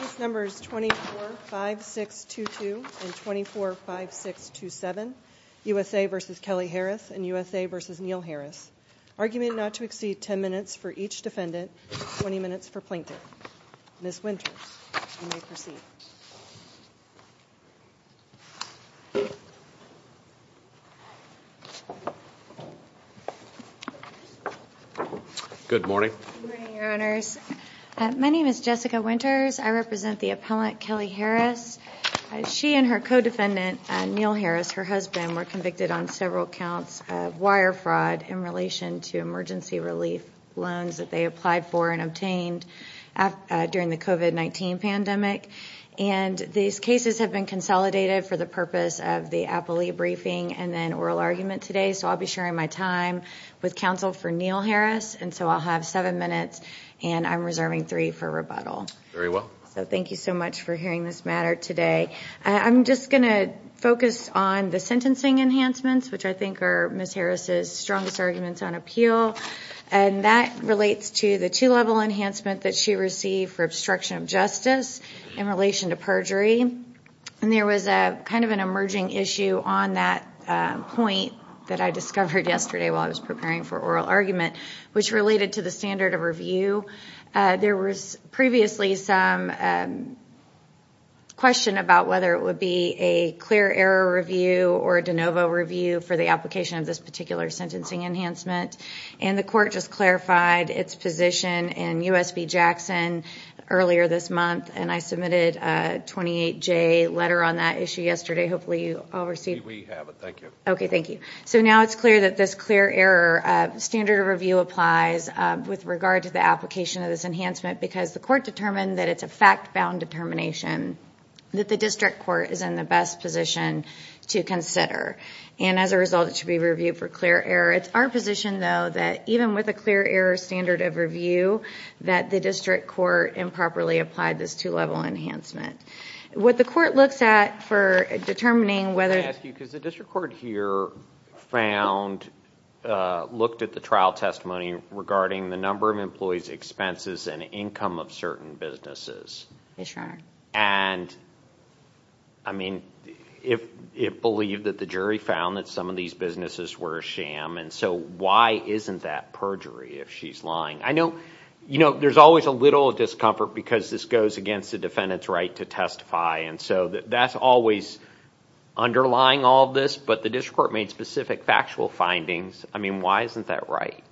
These numbers 24 5 6 2 2 and 24 5 6 2 7 USA vs. Kelly Harris and USA vs. Neal Harris. Argument not to exceed 10 minutes for each defendant, 20 minutes for Plaintiff. Ms. Winters, you may proceed. Good morning. My name is Jessica Winters. I represent the appellant Kelly Harris. She and her co-defendant Neal Harris, her husband, were convicted on several counts of wire fraud in relation to emergency relief loans that they applied for and obtained during the COVID-19 pandemic. And these cases have been consolidated for the purpose of the appellee briefing and then oral argument today so I'll be sharing my time with counsel for Neal Harris and so I'll have seven minutes and I'm reserving three for rebuttal. Very well. So thank you so much for hearing this matter today. I'm just going to focus on the sentencing enhancements which I think are Ms. Harris's strongest arguments on appeal and that relates to the two-level enhancement that she received for obstruction of justice in relation to perjury and there was a kind of an emerging issue on that point that I discovered yesterday while I was preparing for oral argument which related to the standard of review. There was previously some question about whether it would be a clear error review or a de novo review for the application of this particular sentencing enhancement and the court just clarified its position and USB Jackson earlier this month and I submitted a 28-J letter on that issue yesterday. Hopefully you all received it. Okay thank you. So now it's clear that this clear error standard of review applies with regard to the application of this enhancement because the court determined that it's a fact-bound determination that the district court is in the best position to consider and as a result it should be reviewed for clear error. It's our position though that even with a district court improperly applied this two-level enhancement. What the court looks at for determining whether... Can I ask you, because the district court here found, looked at the trial testimony regarding the number of employees expenses and income of certain businesses and I mean if it believed that the jury found that some of these businesses were a sham and so why isn't that perjury if she's lying? I know you know there's always a little discomfort because this goes against the defendant's right to testify and so that's always underlying all this but the district court made specific factual findings. I mean why isn't that right?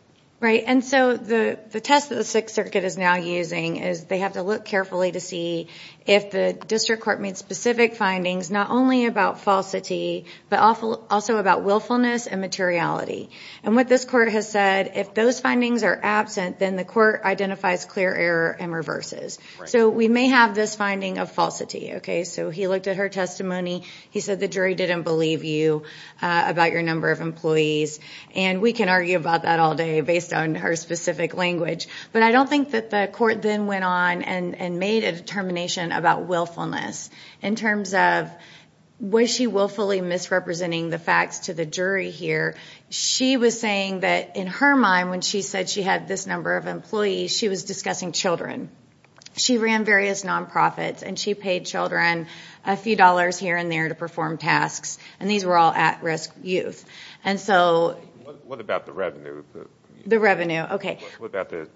Right and so the test that the Sixth Circuit is now using is they have to look carefully to see if the district court made specific findings not only about falsity but also about willfulness and materiality and what this has said if those findings are absent then the court identifies clear error and reverses. So we may have this finding of falsity okay so he looked at her testimony he said the jury didn't believe you about your number of employees and we can argue about that all day based on her specific language but I don't think that the court then went on and made a determination about willfulness in terms of was she willfully misrepresenting the facts to the jury here she was saying that in her mind when she said she had this number of employees she was discussing children. She ran various nonprofits and she paid children a few dollars here and there to perform tasks and these were all at-risk youth and so what about the revenue the revenue okay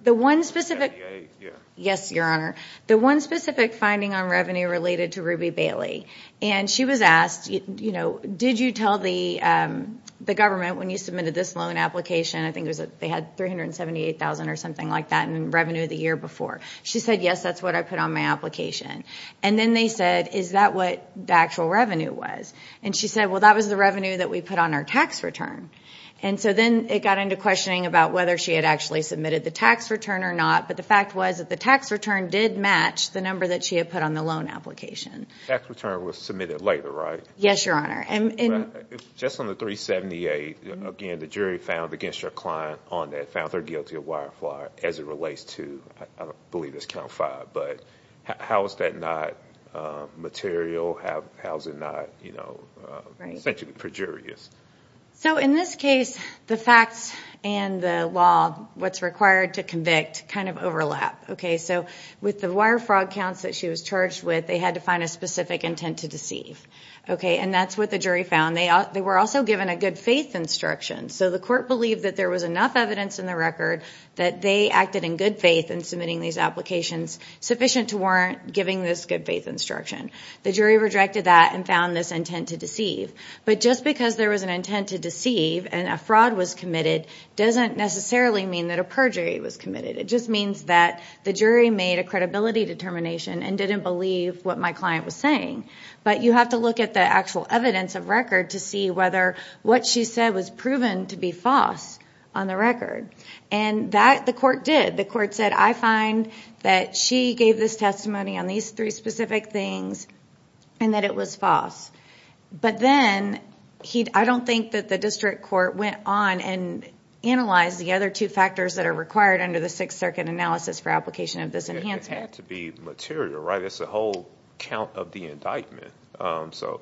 the one specific yes your honor the one specific finding on revenue related to Ruby Bailey and she was asked you know did you tell the the government when you submitted this loan application I think it was that they had 378,000 or something like that and revenue the year before she said yes that's what I put on my application and then they said is that what the actual revenue was and she said well that was the revenue that we put on our tax return and so then it got into questioning about whether she had actually submitted the tax return or not but the fact was that the tax return did match the number that she had put on the application. The tax return was submitted later right yes your honor and just on the 378 again the jury found against your client on that found her guilty of wire fraud as it relates to I believe it's count five but how is that not material have how's it not you know essentially perjurious. So in this case the facts and the law what's required to convict kind of overlap okay so with the wire fraud counts that she was charged with they had to find a specific intent to deceive okay and that's what the jury found they were also given a good faith instruction so the court believed that there was enough evidence in the record that they acted in good faith and submitting these applications sufficient to warrant giving this good faith instruction. The jury rejected that and found this intent to deceive but just because there was an intent to deceive and a fraud was committed doesn't necessarily mean that a perjury was committed it just means that the jury made a credibility determination and didn't believe what my client was saying but you have to look at the actual evidence of record to see whether what she said was proven to be false on the record and that the court did the court said I find that she gave this testimony on these three specific things and that it was false but then he I don't think that the district court went on and analyzed the other two factors that are required under the Sixth Circuit analysis for application of this enhancement to be material right it's a whole count of the indictment so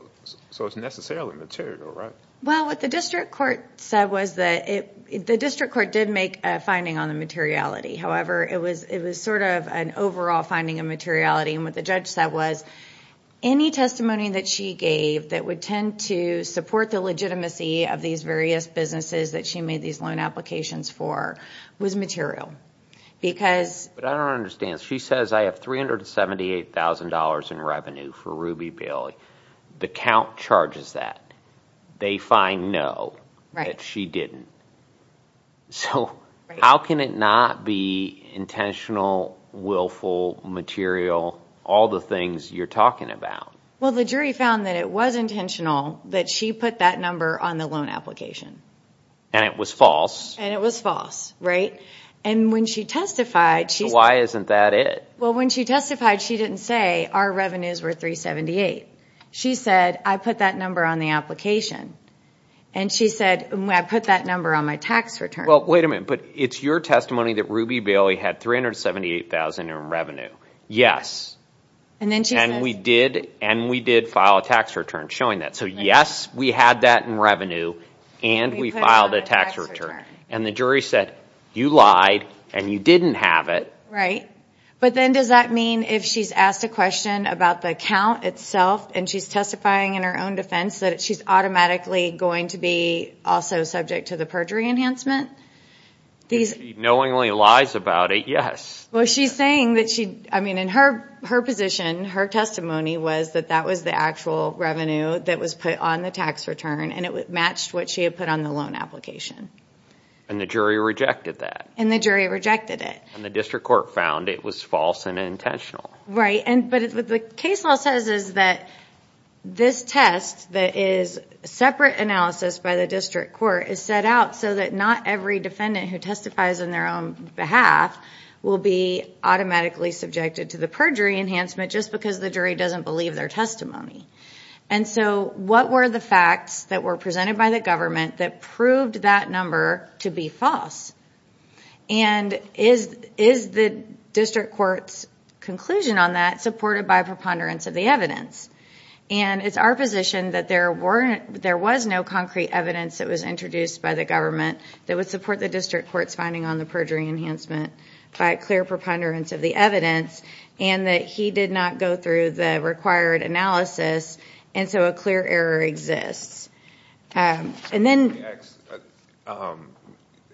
so it's necessarily material right well what the district court said was that it the district court did make a finding on the materiality however it was it was sort of an overall finding of materiality and what the judge said was any testimony that she gave that would tend to support the legitimacy of these various businesses that she made these loan applications for was material because I don't understand she says I have three hundred seventy eight thousand dollars in revenue for Ruby Bailey the count charges that they find no right she didn't so how can it not be intentional willful material all the things you're talking about well the jury found that it was intentional that she put that number on the loan application and it was false and it was false right and when she testified she why isn't that it well when she testified she didn't say our revenues were 378 she said I put that number on the application and she said when I put that number on my tax return well wait a minute but it's your testimony that Ruby Bailey had three hundred seventy eight thousand in revenue yes and then she and we did and we did file a tax return showing that so yes we had that in revenue and we filed a tax return and the jury said you lied and you didn't have it right but then does that mean if she's asked a question about the account itself and she's testifying in her own defense that she's automatically going to be also subject to the perjury enhancement these knowingly lies about it yes well she's saying that she I mean in her her her testimony was that that was the actual revenue that was put on the tax return and it matched what she had put on the loan application and the jury rejected that and the jury rejected it and the district court found it was false and intentional right and but it's what the case law says is that this test that is separate analysis by the district court is set out so that not every defendant who testifies on their own behalf will be automatically subjected to the perjury enhancement just because the jury doesn't believe their testimony and so what were the facts that were presented by the government that proved that number to be false and is is the district courts conclusion on that supported by preponderance of the evidence and it's our position that there weren't there was no concrete evidence that was introduced by the government that would support the district court's finding on perjury enhancement by clear preponderance of the evidence and that he did not go through the required analysis and so a clear error exists and then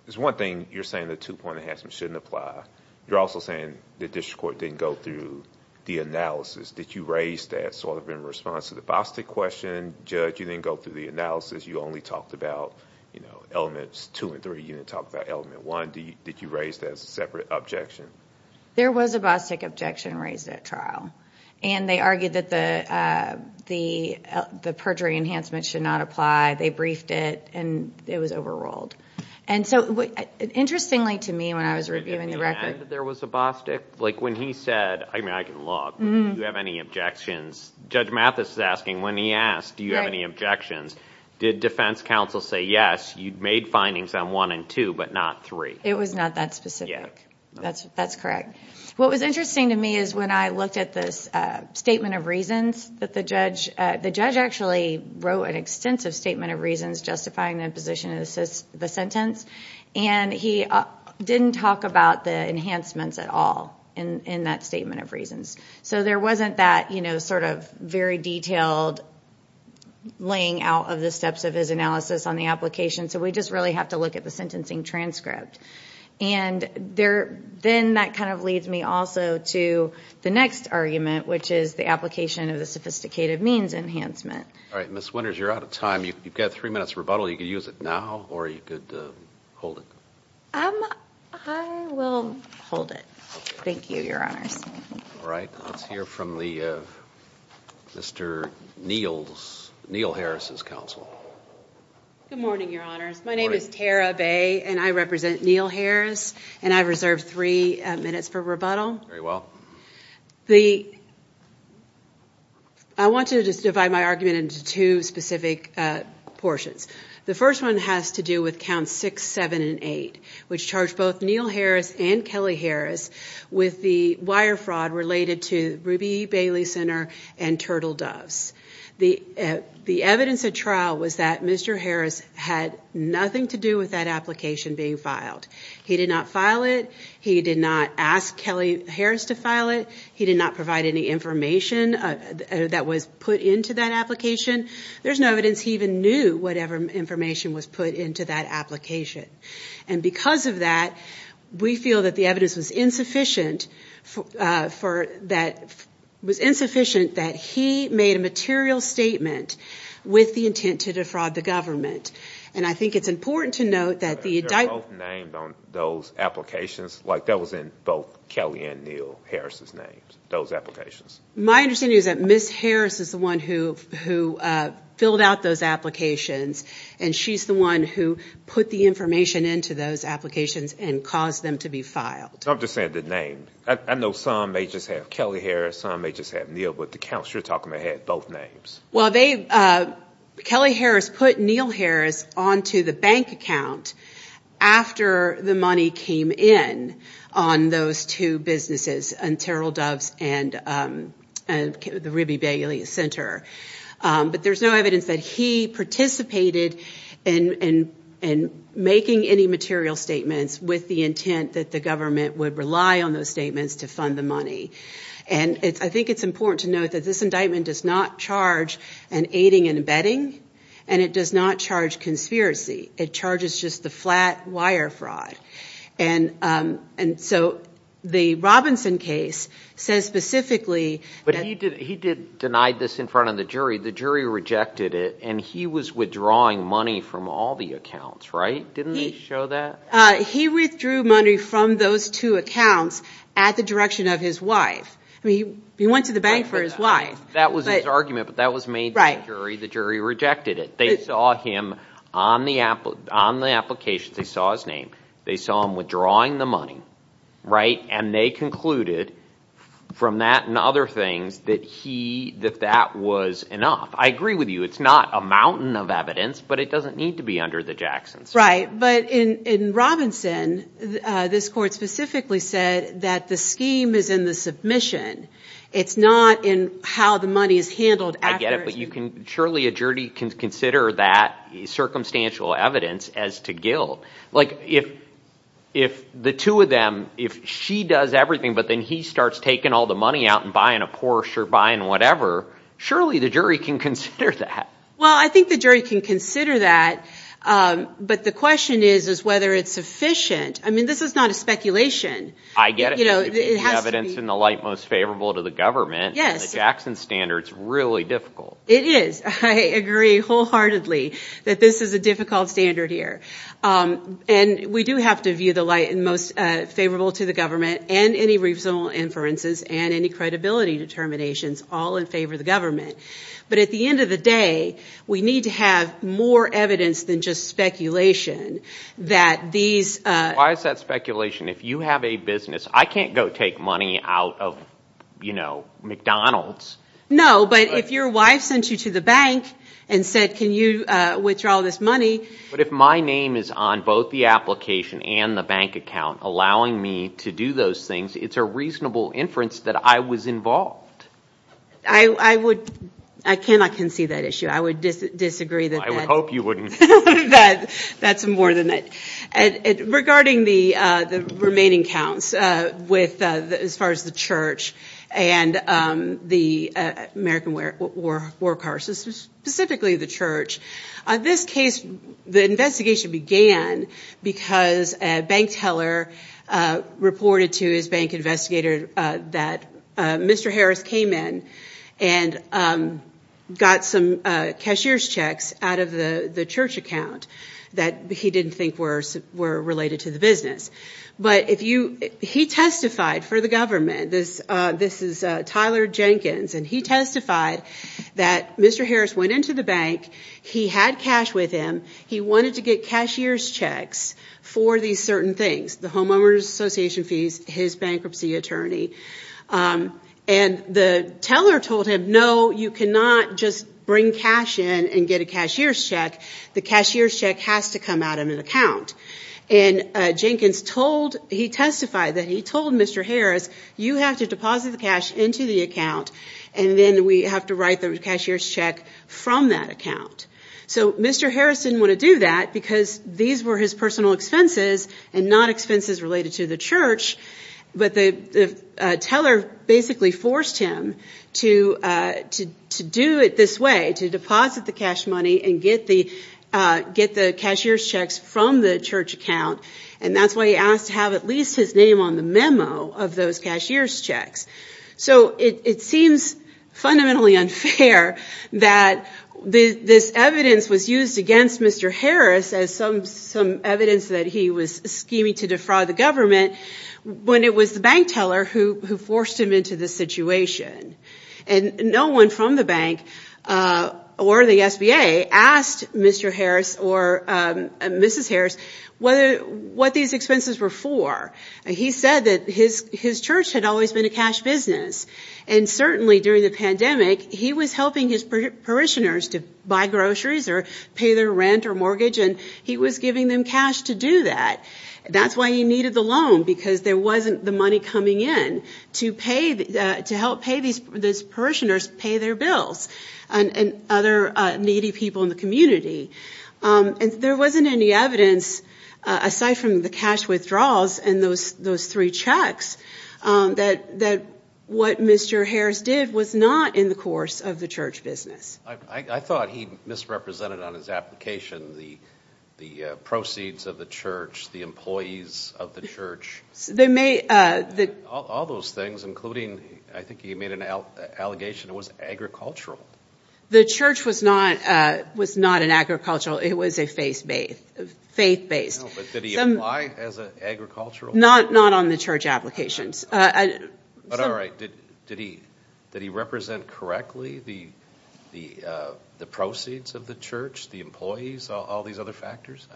there's one thing you're saying the two-point enhancement shouldn't apply you're also saying the district court didn't go through the analysis did you raise that sort of in response to the Boston question judge you didn't go through the analysis you only talked about you know elements two and three you didn't talk about element one did you raise that as a separate objection there was a Bostick objection raised at trial and they argued that the the the perjury enhancement should not apply they briefed it and it was overruled and so interestingly to me when I was reviewing the record there was a Bostick like when he said I mean I can log you have any objections judge Mathis is asking when he asked do you have any objections did defense counsel say yes you made findings on one and two but not three it was not that specific that's that's correct what was interesting to me is when I looked at this statement of reasons that the judge the judge actually wrote an extensive statement of reasons justifying the position of the sentence and he didn't talk about the enhancements at all in in that statement of reasons so there wasn't that you know sort of very detailed laying out of the steps of his analysis on the application so we just really have to look at the sentencing transcript and there then that kind of leads me also to the next argument which is the application of the sophisticated means enhancement all right miss Winters you're out of time you've got three minutes rebuttal you could use it now or you could hold it I will hold it thank you your honors all right let's hear from the mr. Neil's Neil Harris's counsel my name is Tara Bay and I represent Neil Harris and I've reserved three minutes for rebuttal very well the I want to just divide my argument into two specific portions the first one has to do with count six seven and eight which charged both Neil Harris and Kelly Harris with the wire fraud related to Ruby Bailey Center and turtle doves the the evidence of trial was that mr. Harris had nothing to do with that application being filed he did not file it he did not ask Kelly Harris to file it he did not provide any information that was put into that application there's no evidence he even knew whatever information was put into that and because of that we feel that the evidence was insufficient for that was insufficient that he made a material statement with the intent to defraud the government and I think it's important to note that the those applications like that was in both Kelly and Neil Harris's names those applications my understanding is that miss Harris is the one who who filled out those applications and she's the one who put the information into those applications and caused them to be filed I'm just saying the name I know some may just have Kelly Harris I may just have Neil but the counselor talking ahead both names well they Kelly Harris put Neil Harris on to the bank account after the money came in on those two businesses and turtle doves and and the Ruby Bailey Center but there's no that he participated in and making any material statements with the intent that the government would rely on those statements to fund the money and it's I think it's important to note that this indictment does not charge and aiding and abetting and it does not charge conspiracy it charges just the flat wire fraud and and so the Robinson case says specifically but he did he did denied this in front of the jury the jury rejected it and he was withdrawing money from all the accounts right didn't he show that he withdrew money from those two accounts at the direction of his wife I mean he went to the bank for his wife that was an argument but that was made right jury the jury rejected it they saw him on the Apple on the application they saw his name they saw him withdrawing the money right and they concluded from that and other things that he that that was enough I agree with you it's not a mountain of evidence but it doesn't need to be under the Jackson's right but in in Robinson this court specifically said that the scheme is in the submission it's not in how the money is handled I get it but you can surely a jury can consider that circumstantial evidence as to guilt like if if the two of them if she does everything but then he starts taking all the money out and buying a Porsche or and whatever surely the jury can consider that well I think the jury can consider that but the question is is whether it's sufficient I mean this is not a speculation I get it you know it has evidence in the light most favorable to the government yes Jackson standards really difficult it is I agree wholeheartedly that this is a difficult standard here and we do have to view the light and most favorable to the government and any reasonable inferences and any credibility determinations all in favor of the government but at the end of the day we need to have more evidence than just speculation that these why is that speculation if you have a business I can't go take money out of you know McDonald's no but if your wife sent you to the bank and said can you withdraw this money but if my name is on both the application and the account allowing me to do those things it's a reasonable inference that I was involved I I would I cannot concede that issue I would disagree that I would hope you wouldn't that that's more than it and regarding the the remaining counts with as far as the church and the American where or work horses specifically the church on this case the investigation began because bank teller reported to his bank investigator that Mr. Harris came in and got some cashier's checks out of the church account that he didn't think worse were related to the business but if you he testified for the government this this is Tyler Jenkins and he testified that Mr. Harris went into the bank he had cash with him he wanted to get cashier's checks for these certain things the homeowners association fees his bankruptcy attorney and the teller told him no you cannot just bring cash in and get a cashier's check the cashier's check has to come out of an account and Jenkins told he testified that he told Mr. Harris you have to deposit the cash into the account and then we have to write the cashier's check from that account so Mr. Harris didn't want to do that because these were his personal expenses and not expenses related to the church but the teller basically forced him to to do it this way to deposit the cash money and get the get the cashier's checks from the church account and that's why he asked to have at least his name on the memo of those cashier's checks so it seems fundamentally unfair that the this evidence was used against Mr. Harris as some some evidence that he was scheming to defraud the government when it was the bank teller who who forced him into the situation and no one from the bank or the SBA asked Mr. Harris or Mrs. Harris whether what these expenses were for he said that his his church had always been a cash business and certainly during the pandemic he was helping his parishioners to buy groceries or pay their rent or mortgage and he was giving them cash to do that that's why he needed the loan because there wasn't the money coming in to pay to help pay these parishioners pay their bills and other needy people in the community and there wasn't any evidence aside from the cash withdrawals and those those three checks that that what Mr. Harris did was not in the course of the church business I thought he misrepresented on his application the the proceeds of the church the employees of the church they may that all those things including I think he made an allegation it was agricultural the church was not was not an agricultural it was a faith-based faith-based as an agricultural not not on the church applications but all right did did he that he represent correctly the the the proceeds of the church the employees all these other factors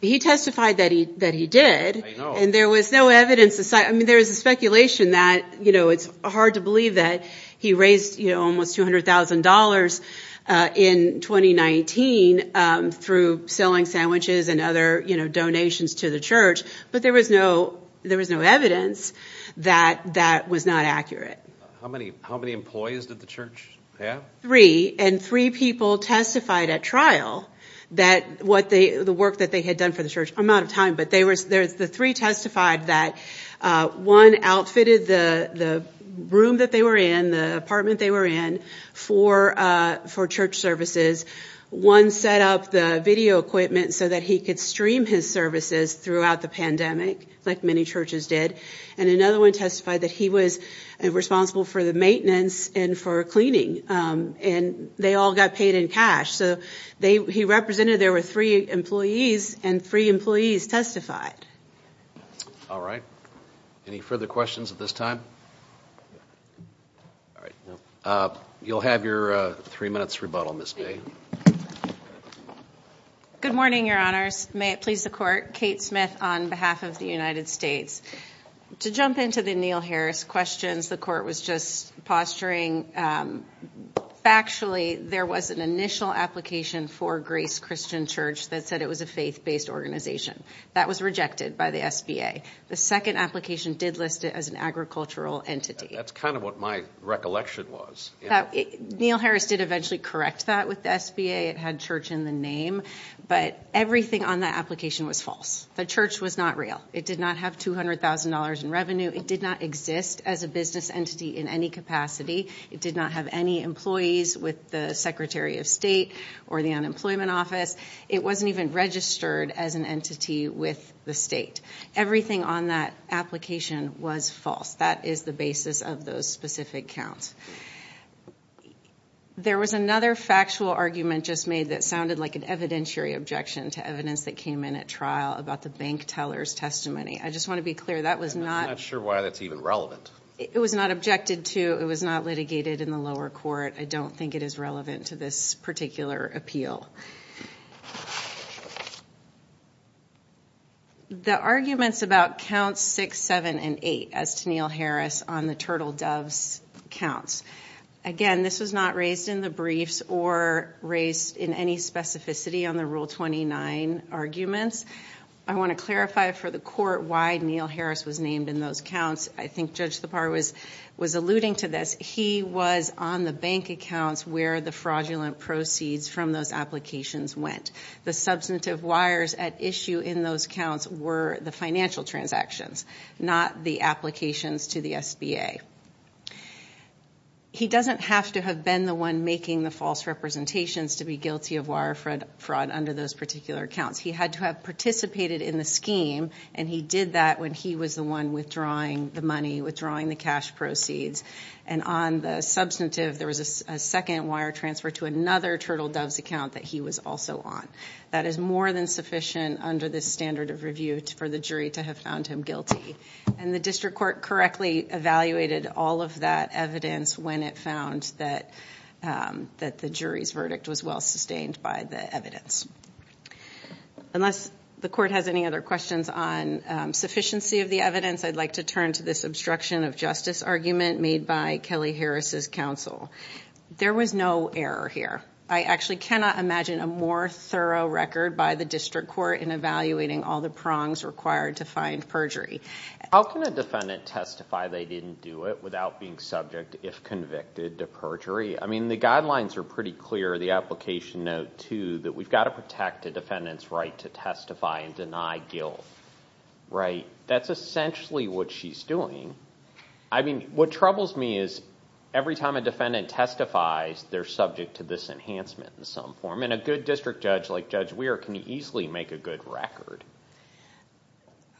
he testified that he that he did and there was no evidence aside I mean there is a speculation that you know it's hard to believe that he raised you know almost $200,000 in 2019 through selling sandwiches and other you know donations to the church but there was no there was no evidence that that was not accurate how many how many employees did the church yeah three and three people testified at trial that what they the work that they had done for the church I'm out of time but they were there's the three testified that one outfitted the the room that they were in the apartment they were in for for church services one set up the video equipment so that he could stream his services throughout the pandemic like many churches did and another one testified that he was responsible for the maintenance and for cleaning and they all got paid in cash so they he represented there were three employees and three employees testified all right any further questions at this time you'll have your three minutes rebuttal miss me good morning your honors may it please the court Kate Smith on behalf of the United States to jump into the Neil Harris questions the court was just posturing factually there was an initial application for Grace Christian Church that said it was a faith-based organization that was rejected by the SBA the second application did list it as an agricultural entity that's kind of what my recollection was Neil Harris did eventually correct that with the SBA it had church in the name but everything on the application was false the church was not real it did not have two hundred thousand dollars in revenue it did not exist as a business entity in any capacity it did not have any employees with the Secretary of State or the Unemployment Office it wasn't even registered as an entity with the state everything on that application was false is the basis of those specific counts there was another factual argument just made that sounded like an evidentiary objection to evidence that came in at trial about the bank tellers testimony I just want to be clear that was not sure why that's even relevant it was not objected to it was not litigated in the lower court I don't think it is relevant to this particular appeal the arguments about counts six seven and eight as to Neil Harris on the turtle doves counts again this was not raised in the briefs or raised in any specificity on the rule 29 arguments I want to clarify for the court why Neil Harris was named in those counts I think judge the par was was alluding to this he was on the bank accounts where the fraudulent proceeds from those applications went the substantive wires at issue in those counts were the financial transactions not the applications to the SBA he doesn't have to have been the one making the false representations to be guilty of wirefraud under those particular accounts he had to have participated in the scheme and he did that when he was the one withdrawing the money withdrawing the cash proceeds and on the substantive there was a second wire transfer to another turtle doves account that he was also on that is more than sufficient under this standard of review for the jury to have found him guilty and the district court correctly evaluated all of that evidence when it found that that the jury's verdict was well sustained by the evidence unless the court has any other questions on sufficiency of the evidence I'd like to turn to this obstruction of justice argument made by Kelly Harris's counsel there was no error here I actually cannot imagine a more thorough record by the district court in evaluating all the prongs required to find perjury how can a defendant testify they didn't do it without being subject if convicted to perjury I mean the guidelines are pretty clear the application note to that we've got to protect a defendant's right to testify and deny guilt right that's essentially what she's doing I mean what troubles me is every time a defendant testifies they're subject to this enhancement in some form and a good district judge like Judge Weir can easily make a good record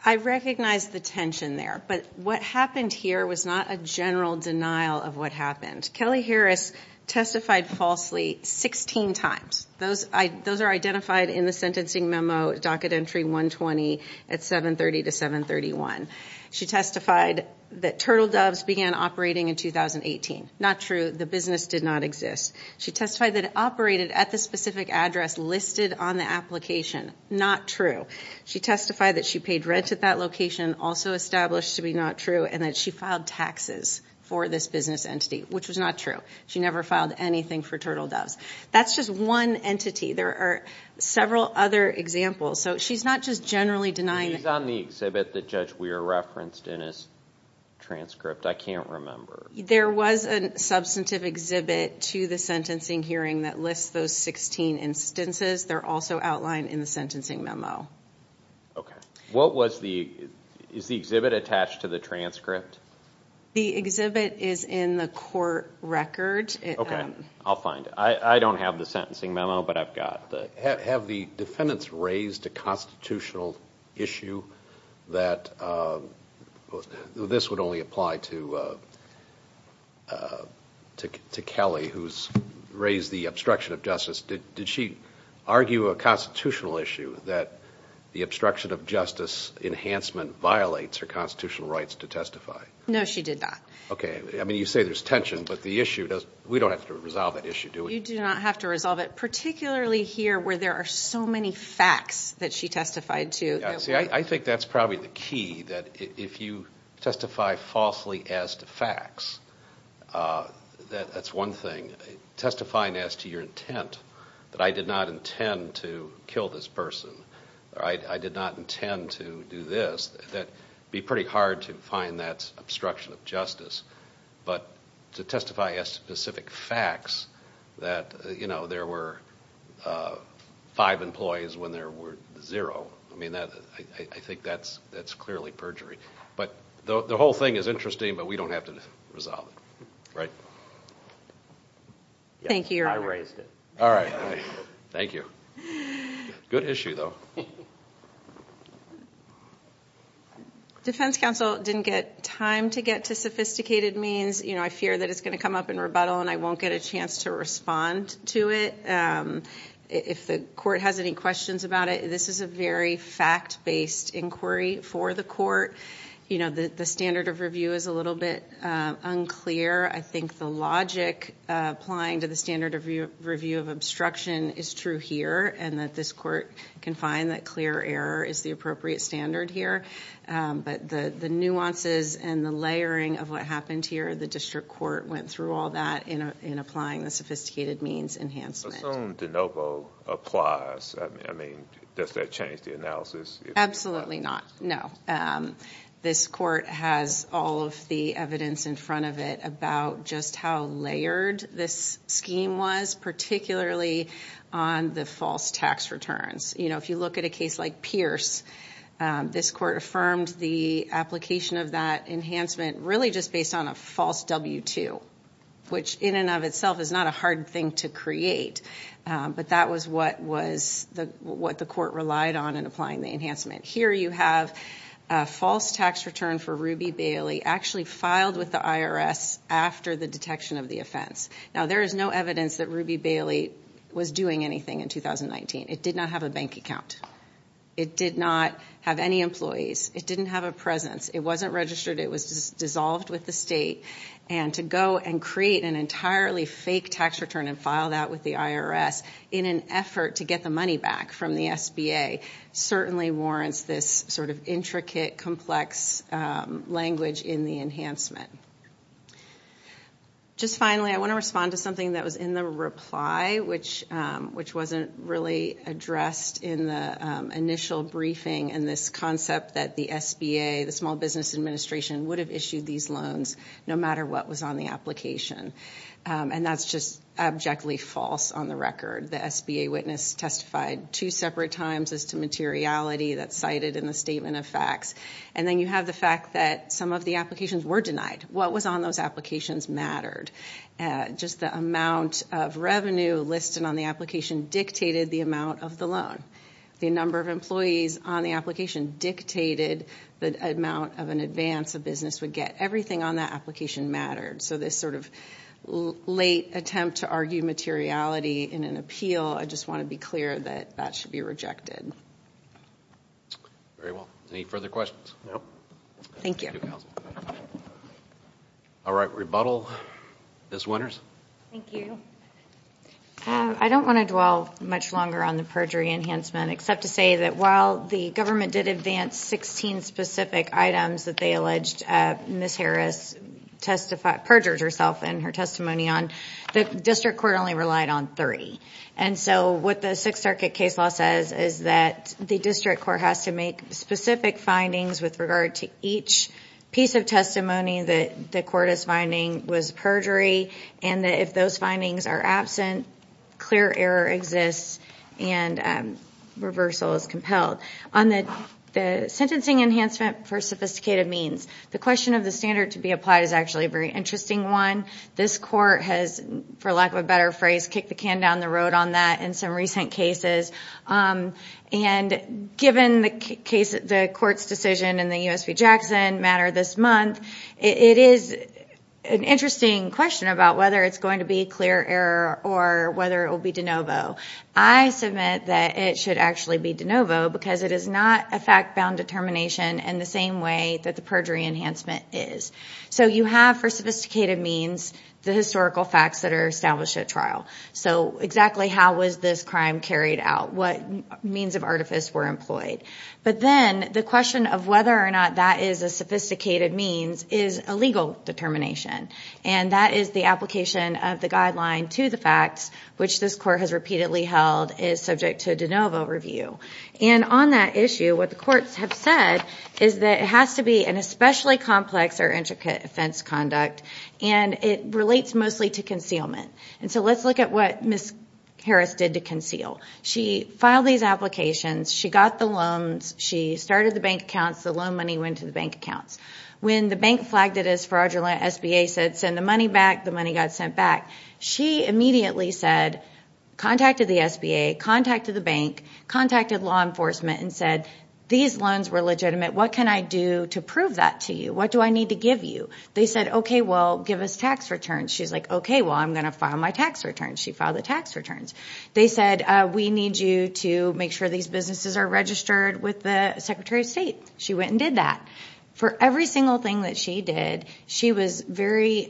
I recognize the tension there but what happened here was not a general denial of what happened Kelly Harris testified falsely 16 times those I those are identified in the sentencing memo docket entry 120 at 730 to 731 she testified that turtle doves began operating in 2018 not true the business did not exist she testified that it operated at the specific address listed on the application not true she testified that she paid rent at that location also established to be not true and that she filed taxes for this business entity which was not true she never filed anything for turtle doves that's just one entity there are several other examples so she's not just generally denying he's on the exhibit that judge referenced in his transcript I can't remember there was a substantive exhibit to the sentencing hearing that lists those 16 instances they're also outlined in the sentencing memo okay what was the is the exhibit attached to the transcript the exhibit is in the court record okay I'll find I don't have the sentencing memo but I've got the have the defendants raised a constitutional issue that this would only apply to to Kelly who's raised the obstruction of justice did did she argue a constitutional issue that the obstruction of justice enhancement violates her constitutional rights to testify no she did that okay I mean you say there's tension but the issue does we don't have to resolve that issue do you do not have to resolve it particularly here where there are so many facts that she testified to see I think that's probably the key that if you testify falsely as to facts that that's one thing testifying as to your intent that I did not intend to kill this person all right I did not intend to do this that be pretty hard to find that obstruction of justice but to testify as specific facts that you know there were five employees when there were zero I mean that I think that's that's clearly perjury but the whole thing is interesting but we don't have to resolve it right thank you I raised it all right thank you good issue though defense counsel didn't get time to get to sophisticated means you know I fear that it's going to come up in rebuttal and I won't get a chance to respond to it if the court has any questions about it this is a very fact-based inquiry for the court you know that the standard of review is a little bit unclear I think the logic applying to the standard of review of obstruction is true here and that this court can find that clear error is the appropriate standard here but the the nuances and the layering of what happened here the district court went through all that you know in applying the sophisticated means enhancement de novo applies I mean does that change the analysis absolutely not no this court has all of the evidence in front of it about just how layered this scheme was particularly on the false tax returns you know if you look at a case like Pierce this court affirmed the application of that enhancement really just based on a false w-2 which in and of itself is not a hard thing to create but that was what was the what the court relied on and applying the enhancement here you have a false tax return for Ruby Bailey actually filed with the IRS after the detection of the offense now there is no evidence that Ruby Bailey was doing anything in 2019 it did not have a bank account it did not have any employees it didn't have a presence it wasn't registered it was dissolved with the state and to go and create an entirely fake tax return and file that with the IRS in an effort to get the money back from the SBA certainly warrants this sort of intricate complex language in the enhancement just finally I want to respond to something that was in the reply which which wasn't really addressed in the initial briefing and this concept that the SBA the Small these loans no matter what was on the application and that's just abjectly false on the record the SBA witness testified two separate times as to materiality that's cited in the statement of facts and then you have the fact that some of the applications were denied what was on those applications mattered just the amount of revenue listed on the application dictated the amount of the loan the number of employees on the application dictated the amount of an advance a business would get everything on that application mattered so this sort of late attempt to argue materiality in an appeal I just want to be clear that that should be rejected very well any further questions thank you all right rebuttal this winners I don't want to dwell much longer on the perjury enhancement except to say that while the government did advance 16 specific items that they alleged miss Harris testified perjured herself in her testimony on the district court only relied on three and so what the Sixth Circuit case law says is that the district court has to make specific findings with regard to each piece of testimony that the court is finding was perjury and that if those findings are absent clear error exists and reversal is compelled on the sentencing enhancement for sophisticated means the question of the standard to be applied is actually a very interesting one this court has for lack of a better phrase kick the can down the road on that in some recent cases and given the case the court's decision in the USP Jackson matter this month it is an interesting question about whether it's going to be clear error or whether it will be de novo I submit that it should actually be de novo because it is not a fact-bound determination and the same way that the perjury enhancement is so you have for sophisticated means the historical facts that are established at trial so exactly how was this crime carried out what means of artifice were employed but then the question of whether or not that is a sophisticated means is a legal determination and that is the application of the guideline to the facts which this court has repeatedly held is subject to de novo review and on that issue what the courts have said is that it has to be an especially complex or intricate offense conduct and it relates mostly to concealment and so let's look at what miss Harris did to conceal she filed these applications she got the loans she started the bank accounts the loan money went to the bank accounts when the bank flagged it as fraudulent SBA said send the money back the money got sent back she immediately said contacted the SBA contacted the bank contacted law enforcement and said these loans were legitimate what can I do to prove that to you what do I need to give you they said okay well give us tax returns she's like okay well I'm going to file my tax returns she filed the tax returns they said we need you to make sure these businesses are registered with the Secretary of State she went and did that for every single thing that she did she was very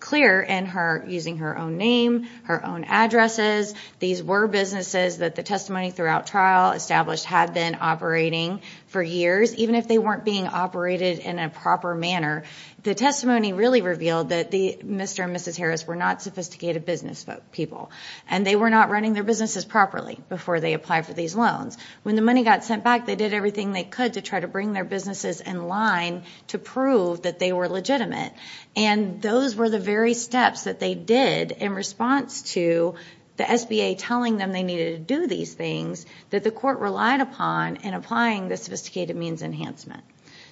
clear in her using her own name her own addresses these were businesses that the testimony throughout trial established had been operating for years even if they weren't being operated in a proper manner the testimony really revealed that the mr. and mrs. Harris were not sophisticated business folk people and they were not running their businesses properly before they apply for these loans when the money got sent back they did everything they could to try to bring their businesses in line to prove that they were legitimate and those were the very steps that they did in response to the SBA telling them they needed to do these things that the court relied upon and applying the sophisticated means enhancement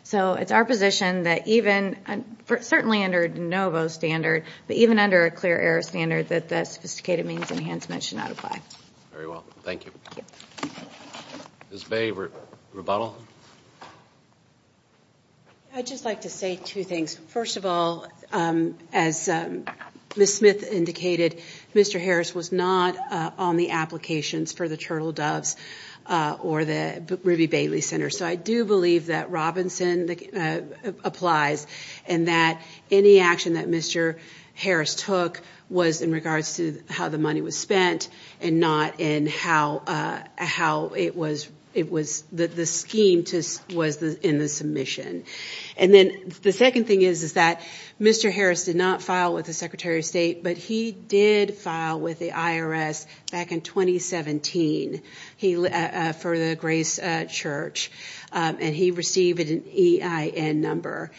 so it's our position that even certainly under de novo standard but even under a clear air standard that the sophisticated means enhancement should not apply very well thank you his favorite rebuttal I just like to say two things first of all as miss Smith indicated mr. Harris was not on the applications for the turtle doves or the Ruby Bailey Center so I do believe that Robinson applies and that any action that mr. Harris took was in regards to how the money was spent and not in how how it was it was that the scheme to was the in the submission and then the second thing is is that mr. Harris did not file with the Secretary of State but he did file with the IRS back in 2017 he for the grace church and he received an EIN number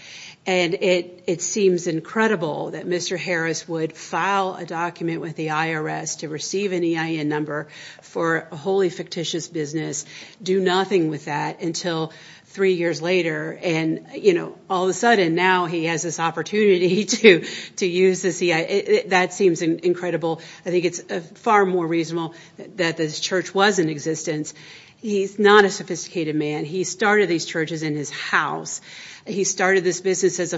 and it it seems incredible that mr. Harris would file a document with the IRS to receive an EIN number for a holy fictitious business do nothing with that until three years later and you know all of a sudden now he has this opportunity to to use the CIA that seems incredible I think it's far more reasonable that this church was in existence he's not a sophisticated man he started these churches in his house he started this business as a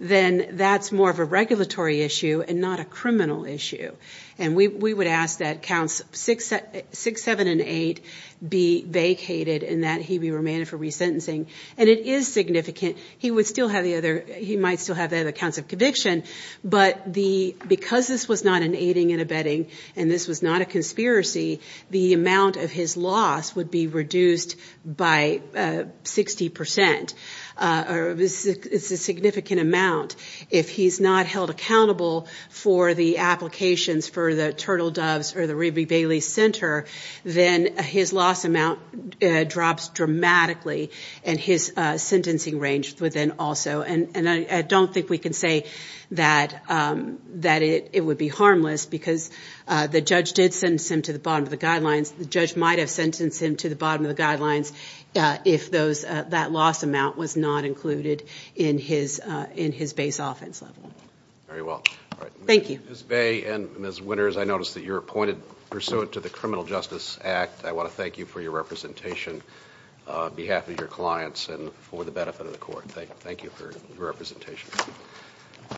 that's more of a regulatory issue and not a criminal issue and we would ask that counts six six seven and eight be vacated and that he be remanded for resentencing and it is significant he would still have the other he might still have that accounts of conviction but the because this was not an aiding and abetting and this was not a conspiracy the amount of his loss would be reduced by 60% or this is a significant amount if he's not held accountable for the applications for the turtle doves or the Ruby Bailey Center then his loss amount drops dramatically and his sentencing range within also and and I don't think we can say that that it would be harmless because the judge did send him to the bottom of the guidelines the judge might have sentencing to the bottom of the guidelines if those that loss amount was not included in his in his base offense level very well thank you Bay and miss winners I noticed that you're appointed pursuant to the Criminal Justice Act I want to thank you for your representation behalf of your clients and for the benefit of the court thank you thank you for your representation